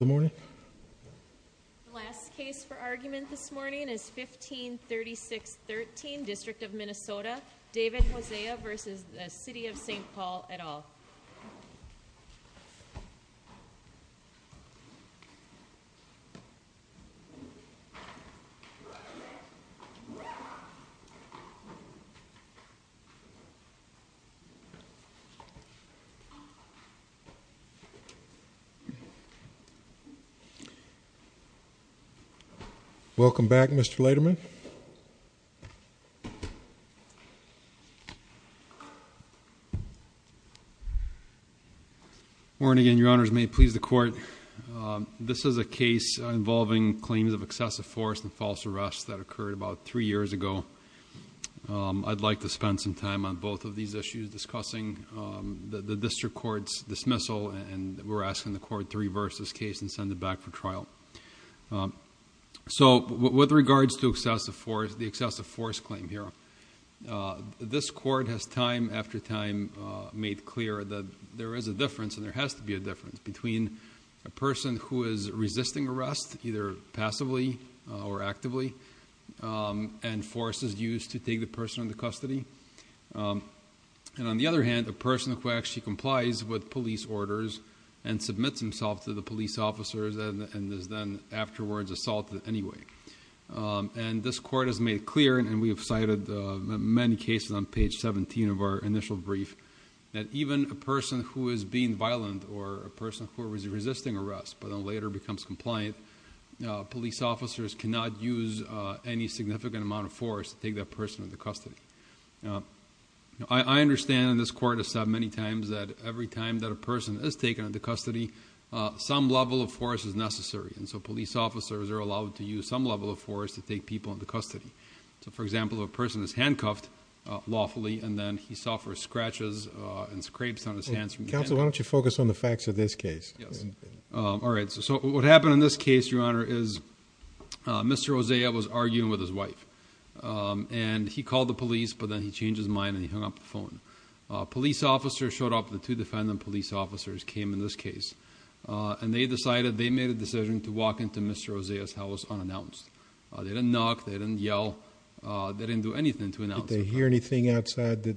The last case for argument this morning is 1536.13, District of Minnesota, David Hosea v. City of St. Paul et al. Welcome back, Mr. Lederman. Morning and your honors, may it please the court. This is a case involving claims of excessive force and false arrests that occurred about three years ago. I'd like to spend some time on both of these issues discussing the district court's dismissal and we're asking the court to reverse this case and send it back for trial. So, with regards to excessive force, the excessive force claim here, this court has time after time made clear that there is a difference, and there has to be a difference, between a person who is resisting arrest, either passively or actively, and forces used to take the person into custody. And on the other hand, a person who actually complies with police orders and submits himself to the police officers and is then afterwards assaulted anyway. And this court has made it clear, and we have cited many cases on page 17 of our initial brief, that even a person who is being violent or a person who is resisting arrest but then later becomes compliant, police officers cannot use any significant amount of force to take that person into custody. I understand, and this court has said many times, that every time that a person is taken into custody, some level of force is necessary. And so, police officers are allowed to use some level of force to take people into custody. So, for example, a person is handcuffed lawfully and then he suffers scratches and scrapes on his hands. Counsel, why don't you focus on the facts of this case? Yes. All right. So, what happened in this case, Your Honor, is Mr. Rosea was arguing with his wife. And he called the police, but then he changed his mind and he hung up the phone. Police officers showed up. The two defendant police officers came in this case. And they decided, they made a decision to walk into Mr. Rosea's house unannounced. They didn't knock. They didn't yell. They didn't do anything to announce. Did they hear anything outside that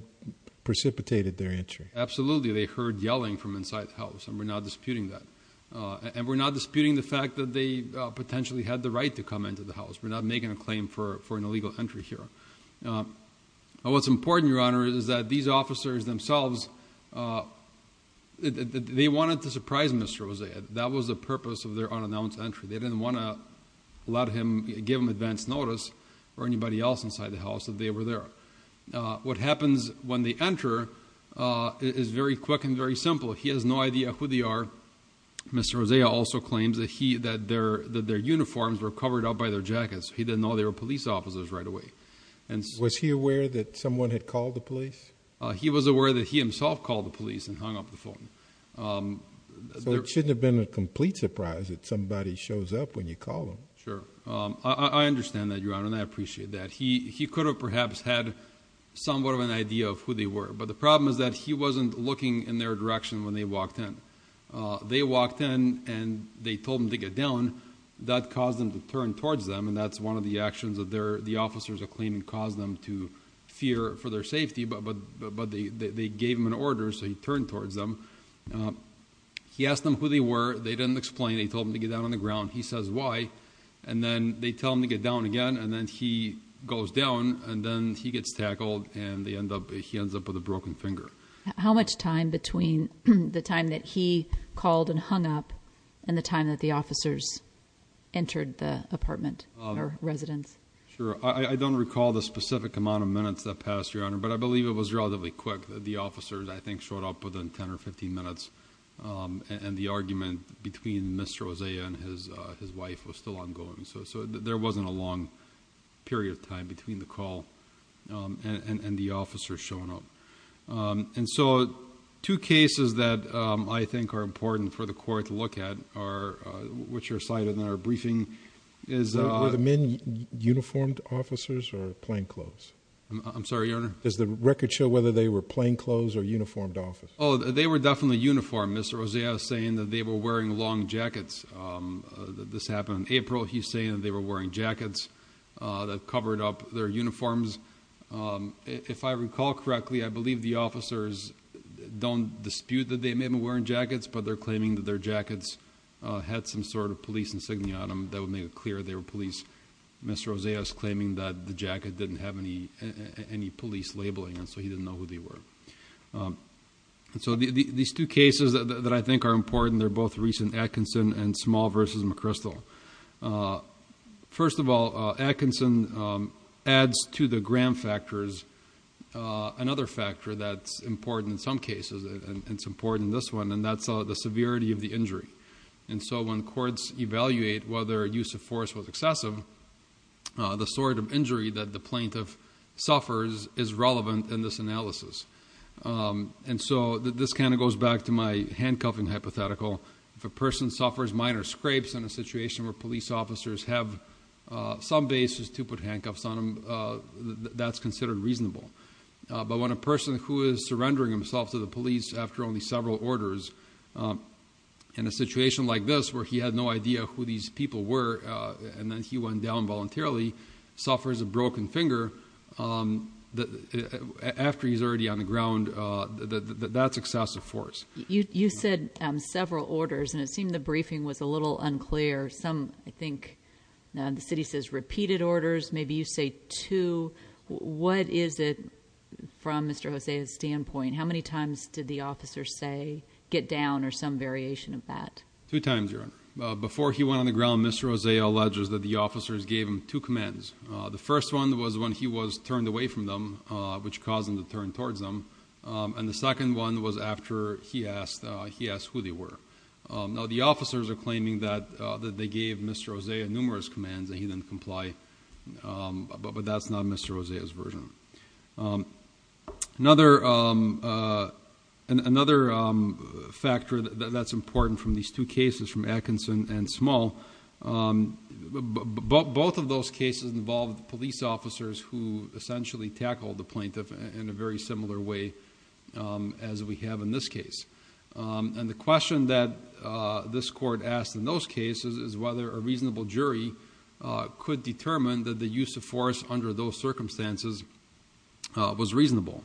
precipitated their entry? Absolutely. They heard yelling from inside the house, and we're not disputing that. And we're not disputing the fact that they potentially had the right to come into the house. We're not making a claim for an illegal entry here. What's important, Your Honor, is that these officers themselves, they wanted to surprise Mr. Rosea. That was the purpose of their unannounced entry. They didn't want to give him advance notice or anybody else inside the house that they were there. What happens when they enter is very quick and very simple. He has no idea who they are. Mr. Rosea also claims that their uniforms were covered up by their jackets. He didn't know they were police officers right away. Was he aware that someone had called the police? He was aware that he himself called the police and hung up the phone. So it shouldn't have been a complete surprise that somebody shows up when you call them. Sure. I understand that, Your Honor, and I appreciate that. He could have perhaps had somewhat of an idea of who they were. But the problem is that he wasn't looking in their direction when they walked in. They walked in, and they told him to get down. That caused him to turn towards them, and that's one of the actions that the officers are claiming caused them to fear for their safety. But they gave him an order, so he turned towards them. He asked them who they were. They didn't explain. They told him to get down on the ground. He says why. And then they tell him to get down again, and then he goes down, and then he gets tackled, and he ends up with a broken finger. How much time between the time that he called and hung up and the time that the officers entered the apartment or residence? Sure. I don't recall the specific amount of minutes that passed, Your Honor, but I believe it was relatively quick. The officers, I think, showed up within 10 or 15 minutes, and the argument between Mr. Oseah and his wife was still ongoing. So there wasn't a long period of time between the call and the officers showing up. And so two cases that I think are important for the court to look at, which are cited in our briefing, is a... Were the men uniformed officers or plainclothes? I'm sorry, Your Honor? Does the record show whether they were plainclothes or uniformed officers? Oh, they were definitely uniformed. Mr. Oseah was saying that they were wearing long jackets. This happened in April. He's saying that they were wearing jackets that covered up their uniforms. If I recall correctly, I believe the officers don't dispute that they may have been wearing jackets, but they're claiming that their jackets had some sort of police insignia on them. That would make it clear they were police. Mr. Oseah is claiming that the jacket didn't have any police labeling, and so he didn't know who they were. So these two cases that I think are important, they're both recent Atkinson and Small v. McChrystal. First of all, Atkinson adds to the Graham factors another factor that's important in some cases, and it's important in this one, and that's the severity of the injury. And so when courts evaluate whether use of force was excessive, the sort of injury that the plaintiff suffers is relevant in this analysis. And so this kind of goes back to my handcuffing hypothetical. If a person suffers minor scrapes in a situation where police officers have some basis to put handcuffs on them, that's considered reasonable. But when a person who is surrendering himself to the police after only several orders, in a situation like this where he had no idea who these people were, and then he went down voluntarily, suffers a broken finger after he's already on the ground, that's excessive force. You said several orders, and it seemed the briefing was a little unclear. I think the city says repeated orders. Maybe you say two. What is it from Mr. Oseah's standpoint? How many times did the officer say get down or some variation of that? Two times, Your Honor. Before he went on the ground, Mr. Oseah alleges that the officers gave him two commands. The first one was when he was turned away from them, which caused him to turn towards them, and the second one was after he asked who they were. Now, the officers are claiming that they gave Mr. Oseah numerous commands and he didn't comply, but that's not Mr. Oseah's version. Another factor that's important from these two cases, from Atkinson and Small, both of those cases involved police officers who essentially tackle the plaintiff in a very similar way as we have in this case. The question that this court asked in those cases is whether a reasonable jury could determine that the use of force under those circumstances was reasonable.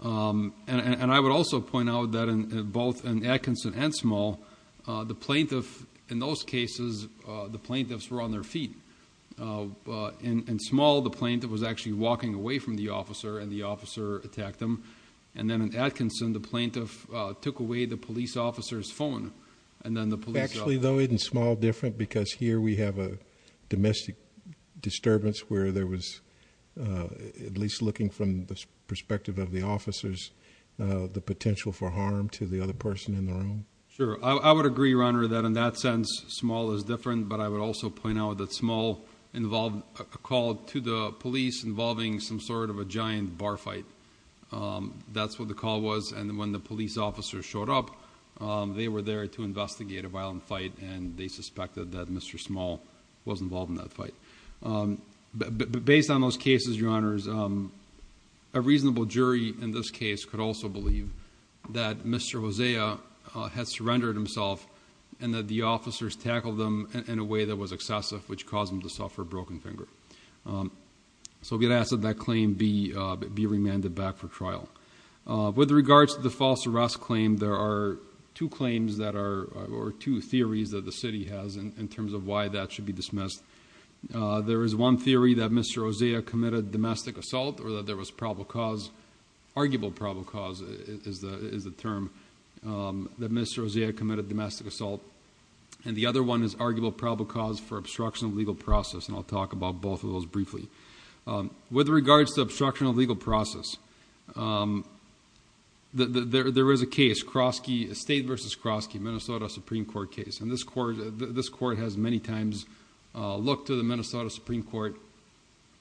I would also point out that both in Atkinson and Small, the plaintiff in those cases, the plaintiffs were on their feet. In Small, the plaintiff was actually walking away from the officer and the officer attacked him. Then in Atkinson, the plaintiff took away the police officer's phone. Actually, though, isn't Small different because here we have a domestic disturbance where there was, at least looking from the perspective of the officers, the potential for harm to the other person in the room? Sure. I would agree, Your Honor, that in that sense, Small is different, but I would also point out that Small involved a call to the police involving some sort of a giant bar fight. That's what the call was. When the police officers showed up, they were there to investigate a violent fight, and they suspected that Mr. Small was involved in that fight. Based on those cases, Your Honors, a reasonable jury in this case could also believe that Mr. Hosea had surrendered himself and that the officers tackled him in a way that was excessive, which caused him to suffer a broken finger. We would ask that that claim be remanded back for trial. With regards to the false arrest claim, there are two theories that the city has in terms of why that should be dismissed. There is one theory that Mr. Hosea committed domestic assault or that there was probable cause. Arguable probable cause is the term that Mr. Hosea committed domestic assault, and the other one is arguable probable cause for obstruction of legal process, and I'll talk about both of those briefly. With regards to obstruction of legal process, there is a case, State v. Krosky, Minnesota Supreme Court case, and this court has many times looked to the Minnesota Supreme Court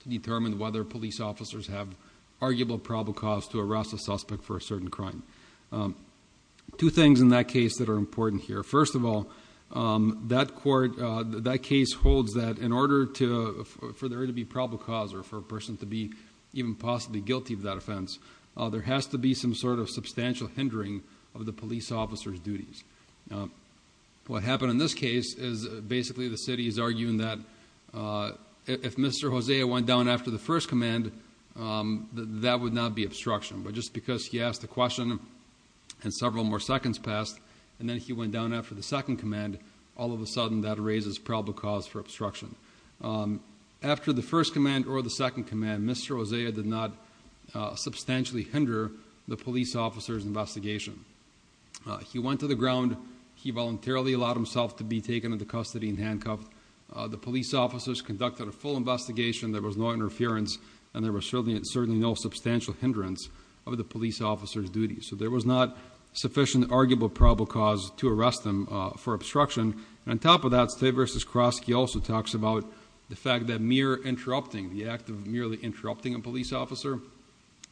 to determine whether police officers have arguable probable cause to arrest a suspect for a certain crime. Two things in that case that are important here. First of all, that case holds that in order for there to be probable cause or for a person to be even possibly guilty of that offense, there has to be some sort of substantial hindering of the police officer's duties. What happened in this case is basically the city is arguing that if Mr. Hosea went down after the first command, that would not be obstruction, but just because he asked the question and several more seconds passed and then he went down after the second command, all of a sudden that raises probable cause for obstruction. After the first command or the second command, Mr. Hosea did not substantially hinder the police officer's investigation. He went to the ground, he voluntarily allowed himself to be taken into custody and handcuffed, the police officers conducted a full investigation, there was no interference, and there was certainly no substantial hindrance of the police officer's duties. So there was not sufficient arguable probable cause to arrest him for obstruction. On top of that, State vs. Kroski also talks about the fact that mere interrupting, the act of merely interrupting a police officer,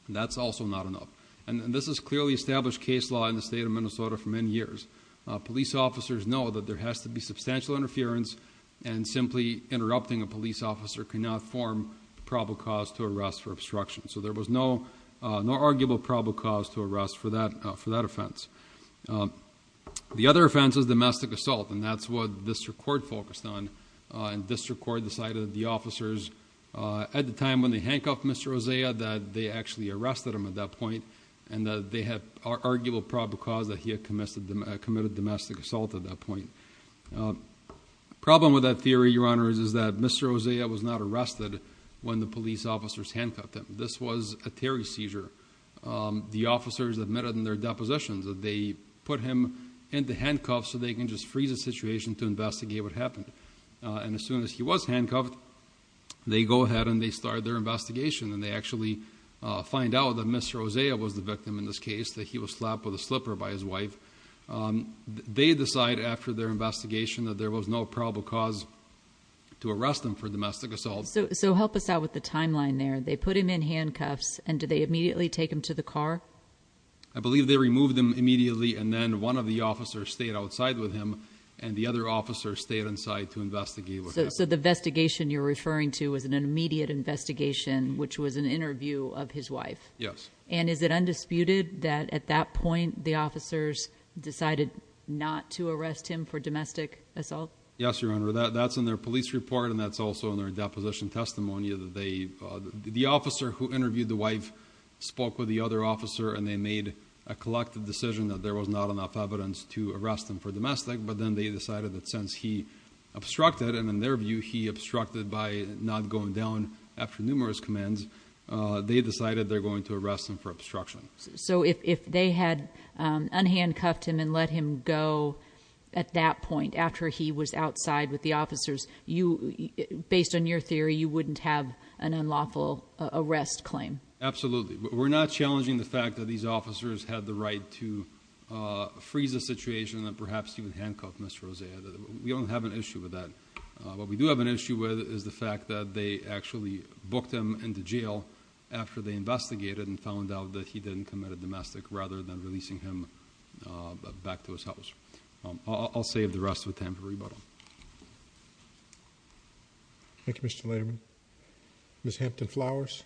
that's also not enough. And this is clearly established case law in the state of Minnesota for many years. Police officers know that there has to be substantial interference and simply interrupting a police officer cannot form probable cause to arrest for obstruction. So there was no arguable probable cause to arrest for that offense. The other offense is domestic assault, and that's what district court focused on. District court decided that the officers, at the time when they handcuffed Mr. Hosea, that they actually arrested him at that point, and that they had arguable probable cause that he had committed domestic assault at that point. Problem with that theory, Your Honors, is that Mr. Hosea was not arrested when the police officers handcuffed him. This was a Terry seizure. The officers admitted in their depositions that they put him into handcuffs so they can just freeze the situation to investigate what happened. And as soon as he was handcuffed, they go ahead and they start their investigation, and they actually find out that Mr. Hosea was the victim in this case, that he was slapped with a slipper by his wife. They decide after their investigation that there was no probable cause to arrest him for domestic assault. So help us out with the timeline there. They put him in handcuffs, and did they immediately take him to the car? I believe they removed him immediately, and then one of the officers stayed outside with him, and the other officer stayed inside to investigate what happened. So the investigation you're referring to was an immediate investigation, which was an interview of his wife? Yes. And is it undisputed that at that point the officers decided not to arrest him for domestic assault? Yes, Your Honor. That's in their police report, and that's also in their deposition testimony. The officer who interviewed the wife spoke with the other officer, and they made a collective decision that there was not enough evidence to arrest him for domestic, but then they decided that since he obstructed, and in their view he obstructed by not going down after numerous commands, they decided they're going to arrest him for obstruction. So if they had unhandcuffed him and let him go at that point after he was outside with the officers, based on your theory, you wouldn't have an unlawful arrest claim? Absolutely. We're not challenging the fact that these officers had the right to freeze the situation, and that perhaps he would handcuff Ms. Rosea. We don't have an issue with that. What we do have an issue with is the fact that they actually booked him into jail after they investigated and found out that he didn't commit a domestic rather than releasing him back to his house. I'll save the rest of the time for rebuttal. Thank you, Mr. Lederman. Ms. Hampton-Flowers?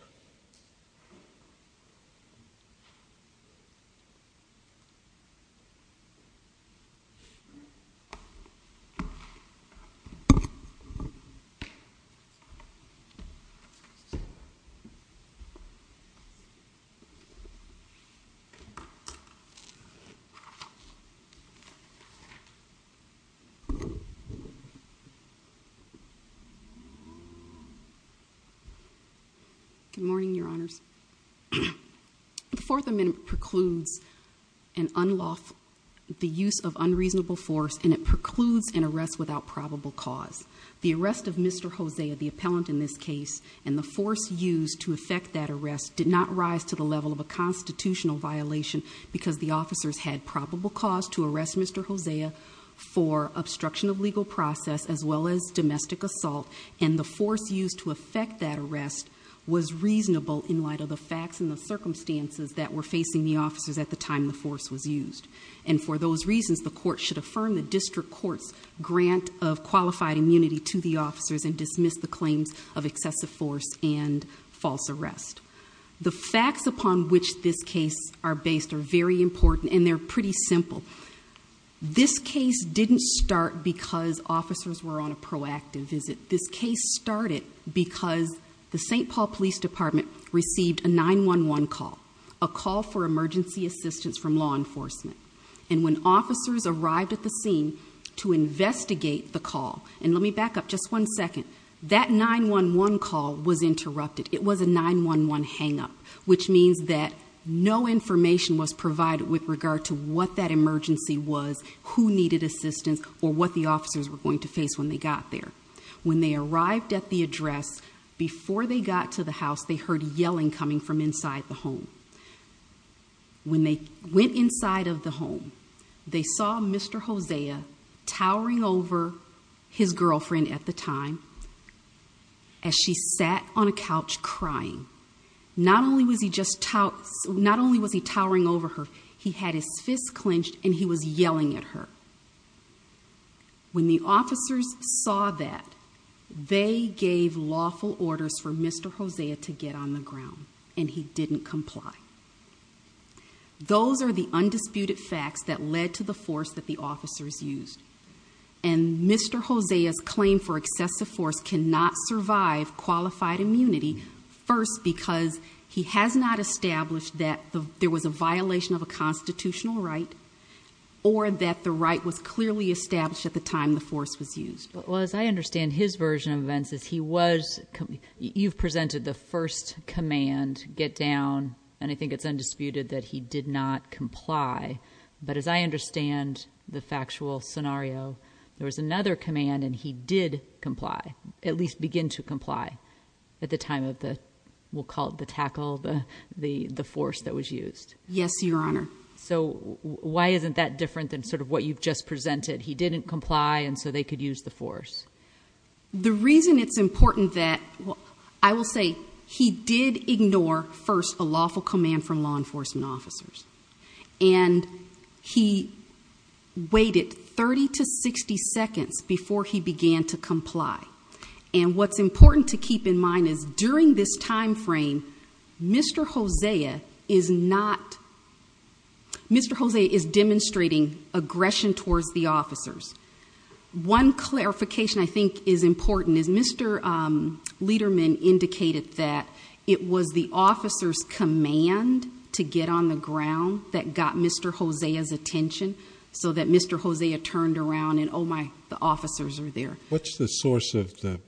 Good morning, Your Honors. The Fourth Amendment precludes the use of unreasonable force, and it precludes an arrest without probable cause. The arrest of Mr. Hosea, the appellant in this case, and the force used to effect that arrest did not rise to the level of a constitutional violation because the officers had probable cause to arrest Mr. Hosea for obstruction of legal process as well as domestic assault, and the force used to effect that arrest was reasonable in light of the facts and the circumstances that were facing the officers at the time the force was used. And for those reasons, the court should affirm the district court's grant of qualified immunity to the officers and dismiss the claims of excessive force and false arrest. The facts upon which this case are based are very important, and they're pretty simple. This case didn't start because officers were on a proactive visit. This case started because the St. Paul Police Department received a 911 call, a call for emergency assistance from law enforcement. And when officers arrived at the scene to investigate the call, and let me back up just one second, that 911 call was interrupted. It was a 911 hangup, which means that no information was provided with regard to what that emergency was, who needed assistance, or what the officers were going to face when they got there. When they arrived at the address, before they got to the house, they heard yelling coming from inside the home. When they went inside of the home, they saw Mr. Hosea towering over his girlfriend at the time as she sat on a couch crying. Not only was he towering over her, he had his fists clenched, and he was yelling at her. When the officers saw that, they gave lawful orders for Mr. Hosea to get on the ground, and he didn't comply. Those are the undisputed facts that led to the force that the officers used. And Mr. Hosea's claim for excessive force cannot survive qualified immunity, first because he has not established that there was a violation of a constitutional right, or that the right was clearly established at the time the force was used. Well, as I understand his version of events, you've presented the first command, get down, and I think it's undisputed that he did not comply. But as I understand the factual scenario, there was another command, and he did comply, at least begin to comply at the time of the, we'll call it the tackle, the force that was used. Yes, Your Honor. So why isn't that different than sort of what you've just presented? He didn't comply, and so they could use the force. The reason it's important that, I will say, he did ignore, first, a lawful command from law enforcement officers. And he waited 30 to 60 seconds before he began to comply. And what's important to keep in mind is during this time frame, Mr. Hosea is not, Mr. Hosea is demonstrating aggression towards the officers. One clarification I think is important is Mr. Lederman indicated that it was the officer's command to get on the ground that got Mr. Hosea's attention, so that Mr. Hosea turned around and, oh my, the officers are there. What's the source of the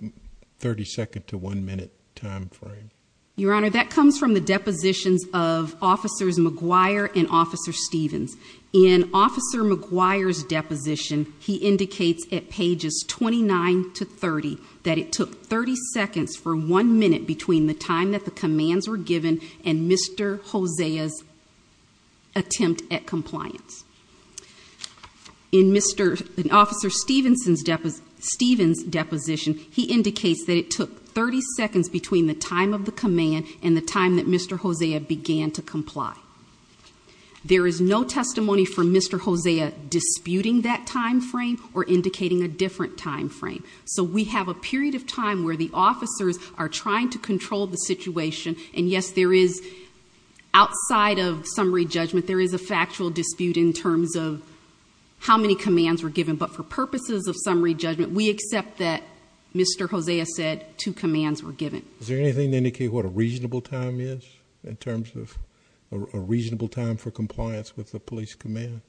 30-second to one-minute time frame? Your Honor, that comes from the depositions of Officers McGuire and Officer Stevens. In Officer McGuire's deposition, he indicates at pages 29 to 30 that it took 30 seconds for one minute between the time that the commands were given and Mr. Hosea's attempt at compliance. In Officer Stevens' deposition, he indicates that it took 30 seconds between the time of the command and the time that Mr. Hosea began to comply. There is no testimony from Mr. Hosea disputing that time frame or indicating a different time frame. So we have a period of time where the officers are trying to control the situation, and yes, there is, outside of summary judgment, there is a factual dispute in terms of how many commands were given, but for purposes of summary judgment, we accept that Mr. Hosea said two commands were given. Is there anything to indicate what a reasonable time is in terms of a reasonable time for compliance with the police command?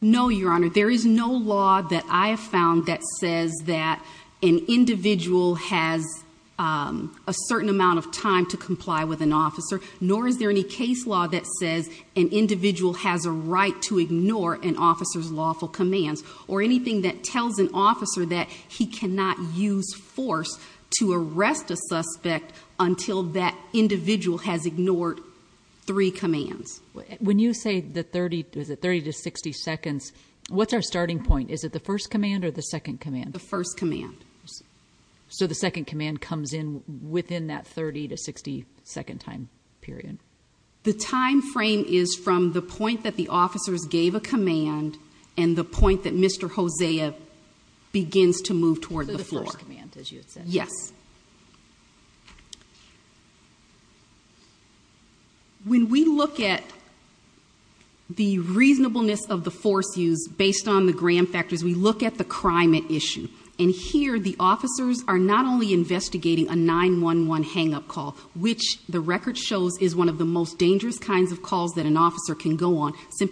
No, Your Honor. There is no law that I have found that says that an individual has a certain amount of time to comply with an officer, nor is there any case law that says an individual has a right to ignore an officer's lawful commands, or anything that tells an officer that he cannot use force to arrest a suspect until that individual has ignored three commands. When you say the 30 to 60 seconds, what's our starting point? Is it the first command or the second command? The first command. So the second command comes in within that 30 to 60 second time period? The time frame is from the point that the officers gave a command and the point that Mr. Hosea begins to move toward the floor. So the first command, as you had said. Yes. When we look at the reasonableness of the force used based on the gram factors, we look at the crime at issue. And here the officers are not only investigating a 911 hang-up call, which the record shows is one of the most dangerous kinds of calls that an officer can go on, it's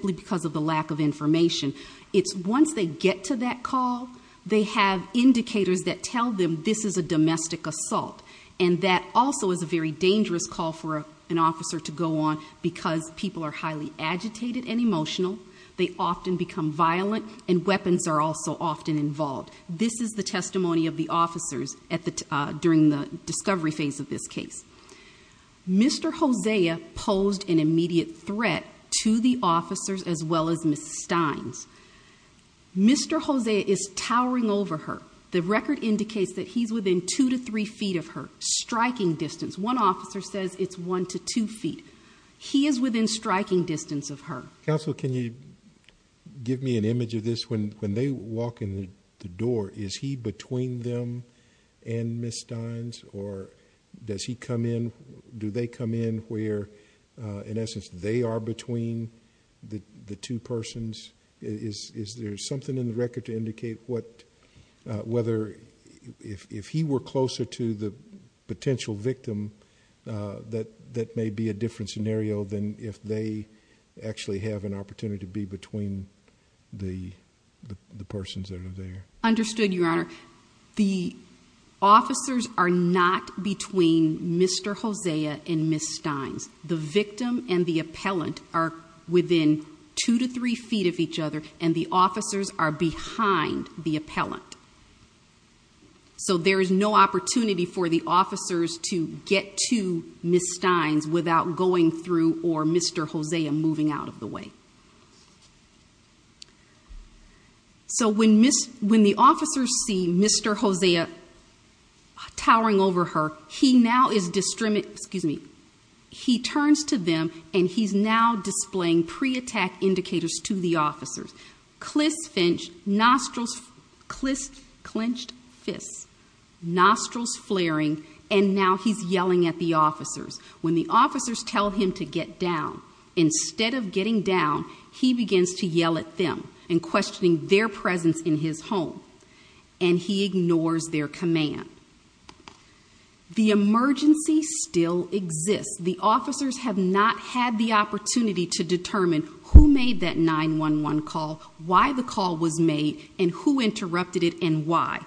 once they get to that call, they have indicators that tell them this is a domestic assault. And that also is a very dangerous call for an officer to go on because people are highly agitated and emotional, they often become violent, and weapons are also often involved. This is the testimony of the officers during the discovery phase of this case. Mr. Hosea posed an immediate threat to the officers as well as Ms. Steins. Mr. Hosea is towering over her. The record indicates that he's within 2 to 3 feet of her, striking distance. One officer says it's 1 to 2 feet. He is within striking distance of her. Counsel, can you give me an image of this? When they walk in the door, is he between them and Ms. Steins, or does he come in? Do they come in where, in essence, they are between the two persons? Is there something in the record to indicate whether if he were closer to the potential victim, that that may be a different scenario than if they actually have an opportunity to be between the persons that are there? Understood, Your Honor. The officers are not between Mr. Hosea and Ms. Steins. The victim and the appellant are within 2 to 3 feet of each other, and the officers are behind the appellant. So there is no opportunity for the officers to get to Ms. Steins without going through or Mr. Hosea moving out of the way. So when the officers see Mr. Hosea towering over her, he now is distributing, excuse me, he turns to them and he's now displaying pre-attack indicators to the officers. Clis clenched fists, nostrils flaring, and now he's yelling at the officers. When the officers tell him to get down, instead of getting down, he begins to yell at them and questioning their presence in his home, and he ignores their command. The emergency still exists. The officers have not had the opportunity to determine who made that 911 call, why the call was made, and who interrupted it, and why.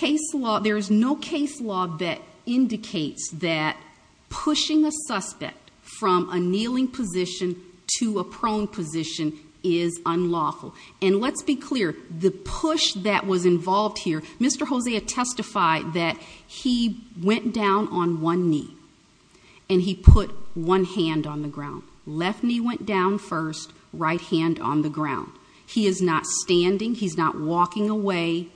There is no case law that indicates that pushing a suspect from a kneeling position to a prone position is unlawful. And let's be clear, the push that was involved here, Mr. Hosea testified that he went down on one knee and he put one hand on the ground. Left knee went down first, right hand on the ground. He is not standing, he's not walking away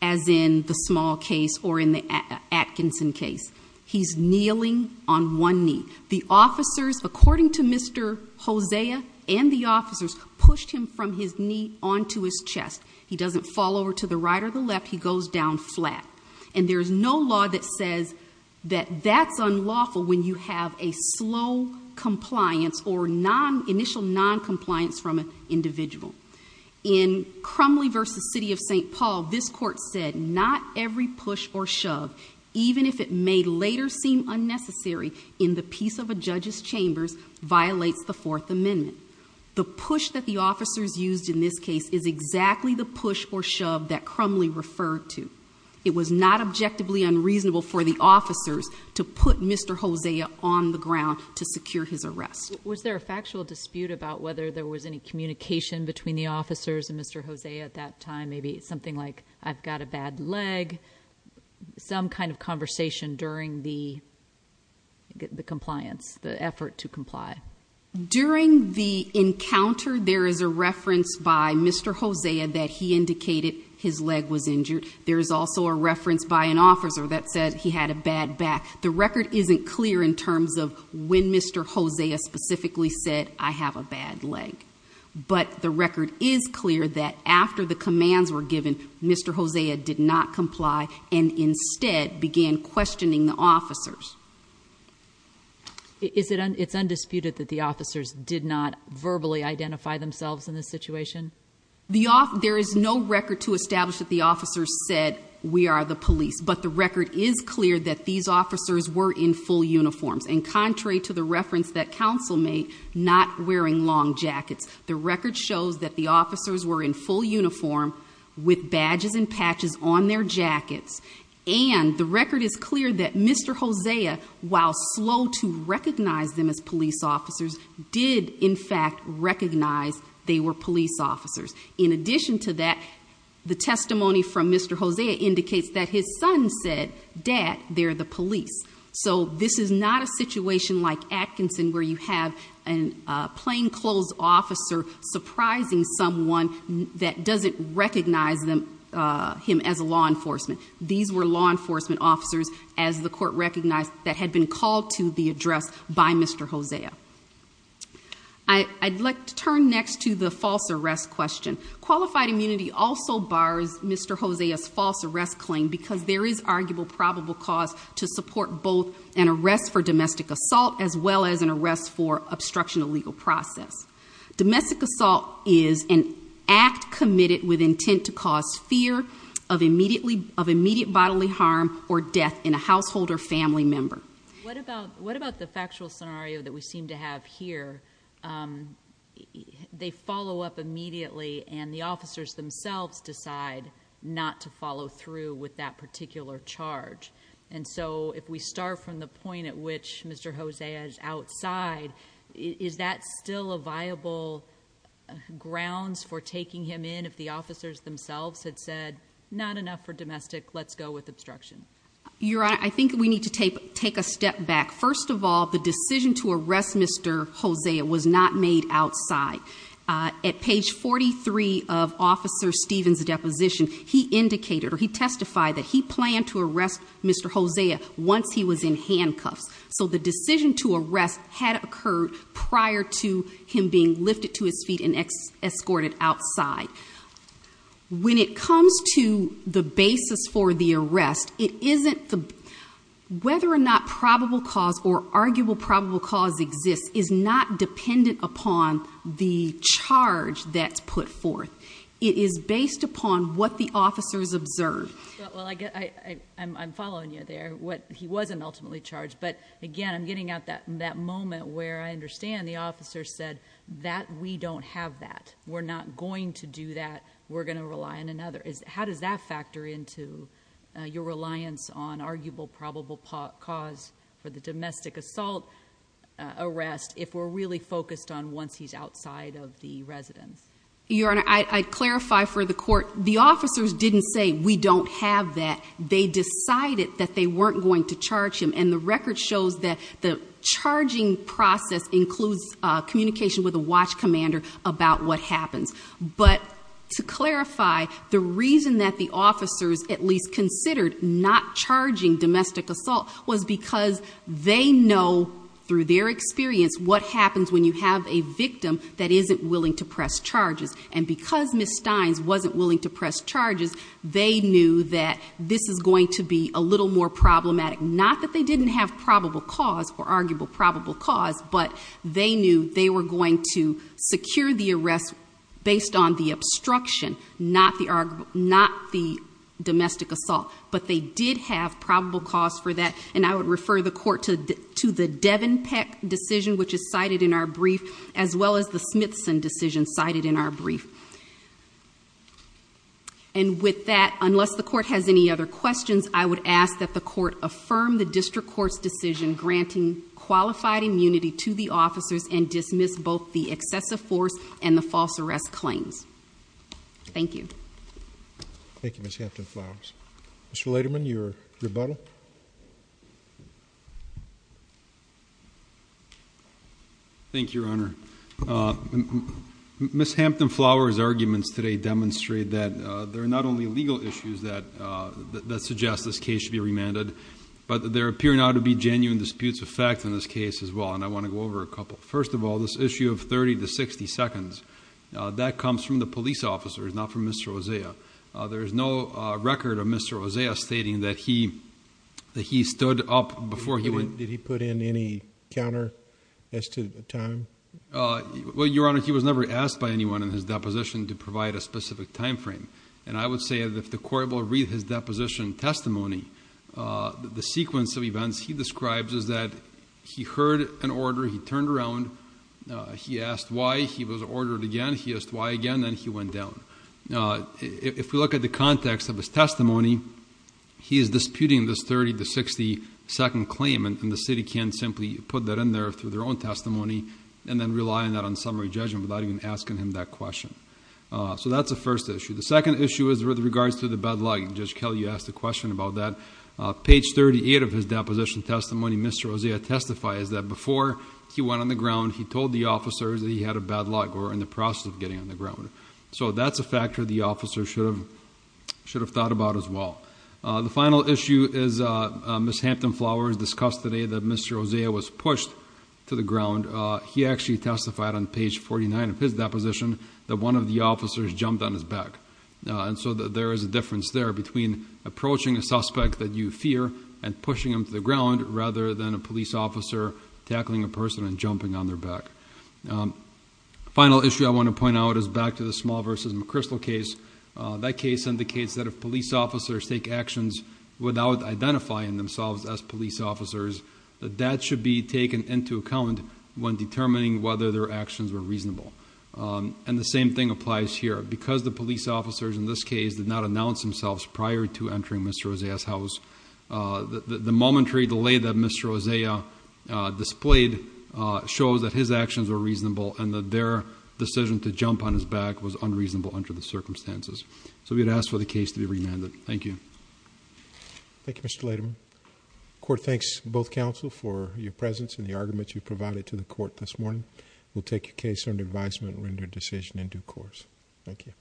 as in the small case or in the Atkinson case. He's kneeling on one knee. The officers, according to Mr. Hosea and the officers, pushed him from his knee onto his chest. He doesn't fall over to the right or the left, he goes down flat. And there is no law that says that that's unlawful when you have a slow compliance or initial noncompliance from an individual. In Crumley v. City of St. Paul, this court said, not every push or shove, even if it may later seem unnecessary, in the peace of a judge's chambers, violates the Fourth Amendment. The push that the officers used in this case is exactly the push or shove that Crumley referred to. It was not objectively unreasonable for the officers to put Mr. Hosea on the ground to secure his arrest. Was there a factual dispute about whether there was any communication between the officers and Mr. Hosea at that time, maybe something like, I've got a bad leg, some kind of conversation during the compliance, the effort to comply? During the encounter, there is a reference by Mr. Hosea that he indicated his leg was injured. There is also a reference by an officer that said he had a bad back. The record isn't clear in terms of when Mr. Hosea specifically said, I have a bad leg. But the record is clear that after the commands were given, Mr. Hosea did not comply and instead began questioning the officers. It's undisputed that the officers did not verbally identify themselves in this situation? There is no record to establish that the officers said, we are the police. But the record is clear that these officers were in full uniforms. And contrary to the reference that counsel made, not wearing long jackets, the record shows that the officers were in full uniform with badges and patches on their jackets. And the record is clear that Mr. Hosea, while slow to recognize them as police officers, did in fact recognize they were police officers. In addition to that, the testimony from Mr. Hosea indicates that his son said, Dad, they're the police. So this is not a situation like Atkinson where you have a plainclothes officer surprising someone that doesn't recognize him as law enforcement. These were law enforcement officers, as the court recognized, that had been called to the address by Mr. Hosea. I'd like to turn next to the false arrest question. Qualified immunity also bars Mr. Hosea's false arrest claim because there is arguable probable cause to support both an arrest for domestic assault as well as an arrest for obstruction of legal process. Domestic assault is an act committed with intent to cause fear of immediate bodily harm or death in a household or family member. What about the factual scenario that we seem to have here? They follow up immediately and the officers themselves decide not to follow through with that particular charge. And so if we start from the point at which Mr. Hosea is outside, is that still a viable grounds for taking him in if the officers themselves had said not enough for domestic, let's go with obstruction? Your Honor, I think we need to take a step back. First of all, the decision to arrest Mr. Hosea was not made outside. At page 43 of Officer Stephen's deposition, he indicated or he testified that he planned to arrest Mr. Hosea once he was in handcuffs. So the decision to arrest had occurred prior to him being lifted to his feet and escorted outside. When it comes to the basis for the arrest, whether or not probable cause or arguable probable cause exists is not dependent upon the charge that's put forth. It is based upon what the officers observed. Well, I'm following you there. He wasn't ultimately charged. But again, I'm getting at that moment where I understand the officers said that we don't have that. We're not going to do that. We're going to rely on another. How does that factor into your reliance on arguable probable cause for the domestic assault arrest if we're really focused on once he's outside of the residence? Your Honor, I'd clarify for the court. The officers didn't say we don't have that. They decided that they weren't going to charge him. And the record shows that the charging process includes communication with a watch commander about what happens. But to clarify, the reason that the officers at least considered not charging domestic assault was because they know through their experience what happens when you have a victim that isn't willing to press charges. And because Ms. Steins wasn't willing to press charges, they knew that this is going to be a little more problematic. Not that they didn't have probable cause or arguable probable cause, but they knew they were going to secure the arrest based on the obstruction, not the domestic assault. But they did have probable cause for that. And I would refer the court to the Devenpeck decision, which is cited in our brief, as well as the Smithson decision cited in our brief. And with that, unless the court has any other questions, I would ask that the court affirm the district court's decision granting qualified immunity to the officers and dismiss both the excessive force and the false arrest claims. Thank you. Thank you, Ms. Hampton-Flowers. Mr. Lederman, your rebuttal. Thank you, Your Honor. Ms. Hampton-Flowers' arguments today demonstrate that there are not only legal issues that suggest this case should be remanded, but there appear now to be genuine disputes of fact in this case as well. And I want to go over a couple. First of all, this issue of 30 to 60 seconds, that comes from the police officers, not from Mr. Osea. There is no record of Mr. Osea stating that he stood up before he went. Did he put in any counter as to the time? Well, Your Honor, he was never asked by anyone in his deposition to provide a specific time frame. And I would say that if the court will read his deposition testimony, the sequence of events he describes is that he heard an order, he turned around, he asked why, he was ordered again, he asked why again, then he went down. If we look at the context of his testimony, he is disputing this 30 to 60 second claim and the city can't simply put that in there through their own testimony and then rely on that on summary judgment without even asking him that question. So that's the first issue. The second issue is with regards to the bad luck. Judge Kelly, you asked a question about that. Page 38 of his deposition testimony, Mr. Osea testifies that before he went on the ground, he told the officers that he had a bad luck or in the process of getting on the ground. So that's a factor the officer should have thought about as well. The final issue is Ms. Hampton Flowers discussed today that Mr. Osea was pushed to the ground. He actually testified on page 49 of his deposition that one of the officers jumped on his back. And so there is a difference there between approaching a suspect that you fear and pushing him to the ground rather than a police officer tackling a person and jumping on their back. The final issue I want to point out is back to the Small v. McChrystal case. That case indicates that if police officers take actions without identifying themselves as police officers, that that should be taken into account when determining whether their actions were reasonable. And the same thing applies here. Because the police officers in this case did not announce themselves prior to entering Mr. Osea's house, the momentary delay that Mr. Osea displayed shows that his actions were reasonable and that their decision to jump on his back was unreasonable under the circumstances. So we would ask for the case to be remanded. Thank you. Thank you, Mr. Lederman. The court thanks both counsel for your presence and the argument you provided to the court this morning. We'll take your case under advisement and render a decision in due course. Thank you.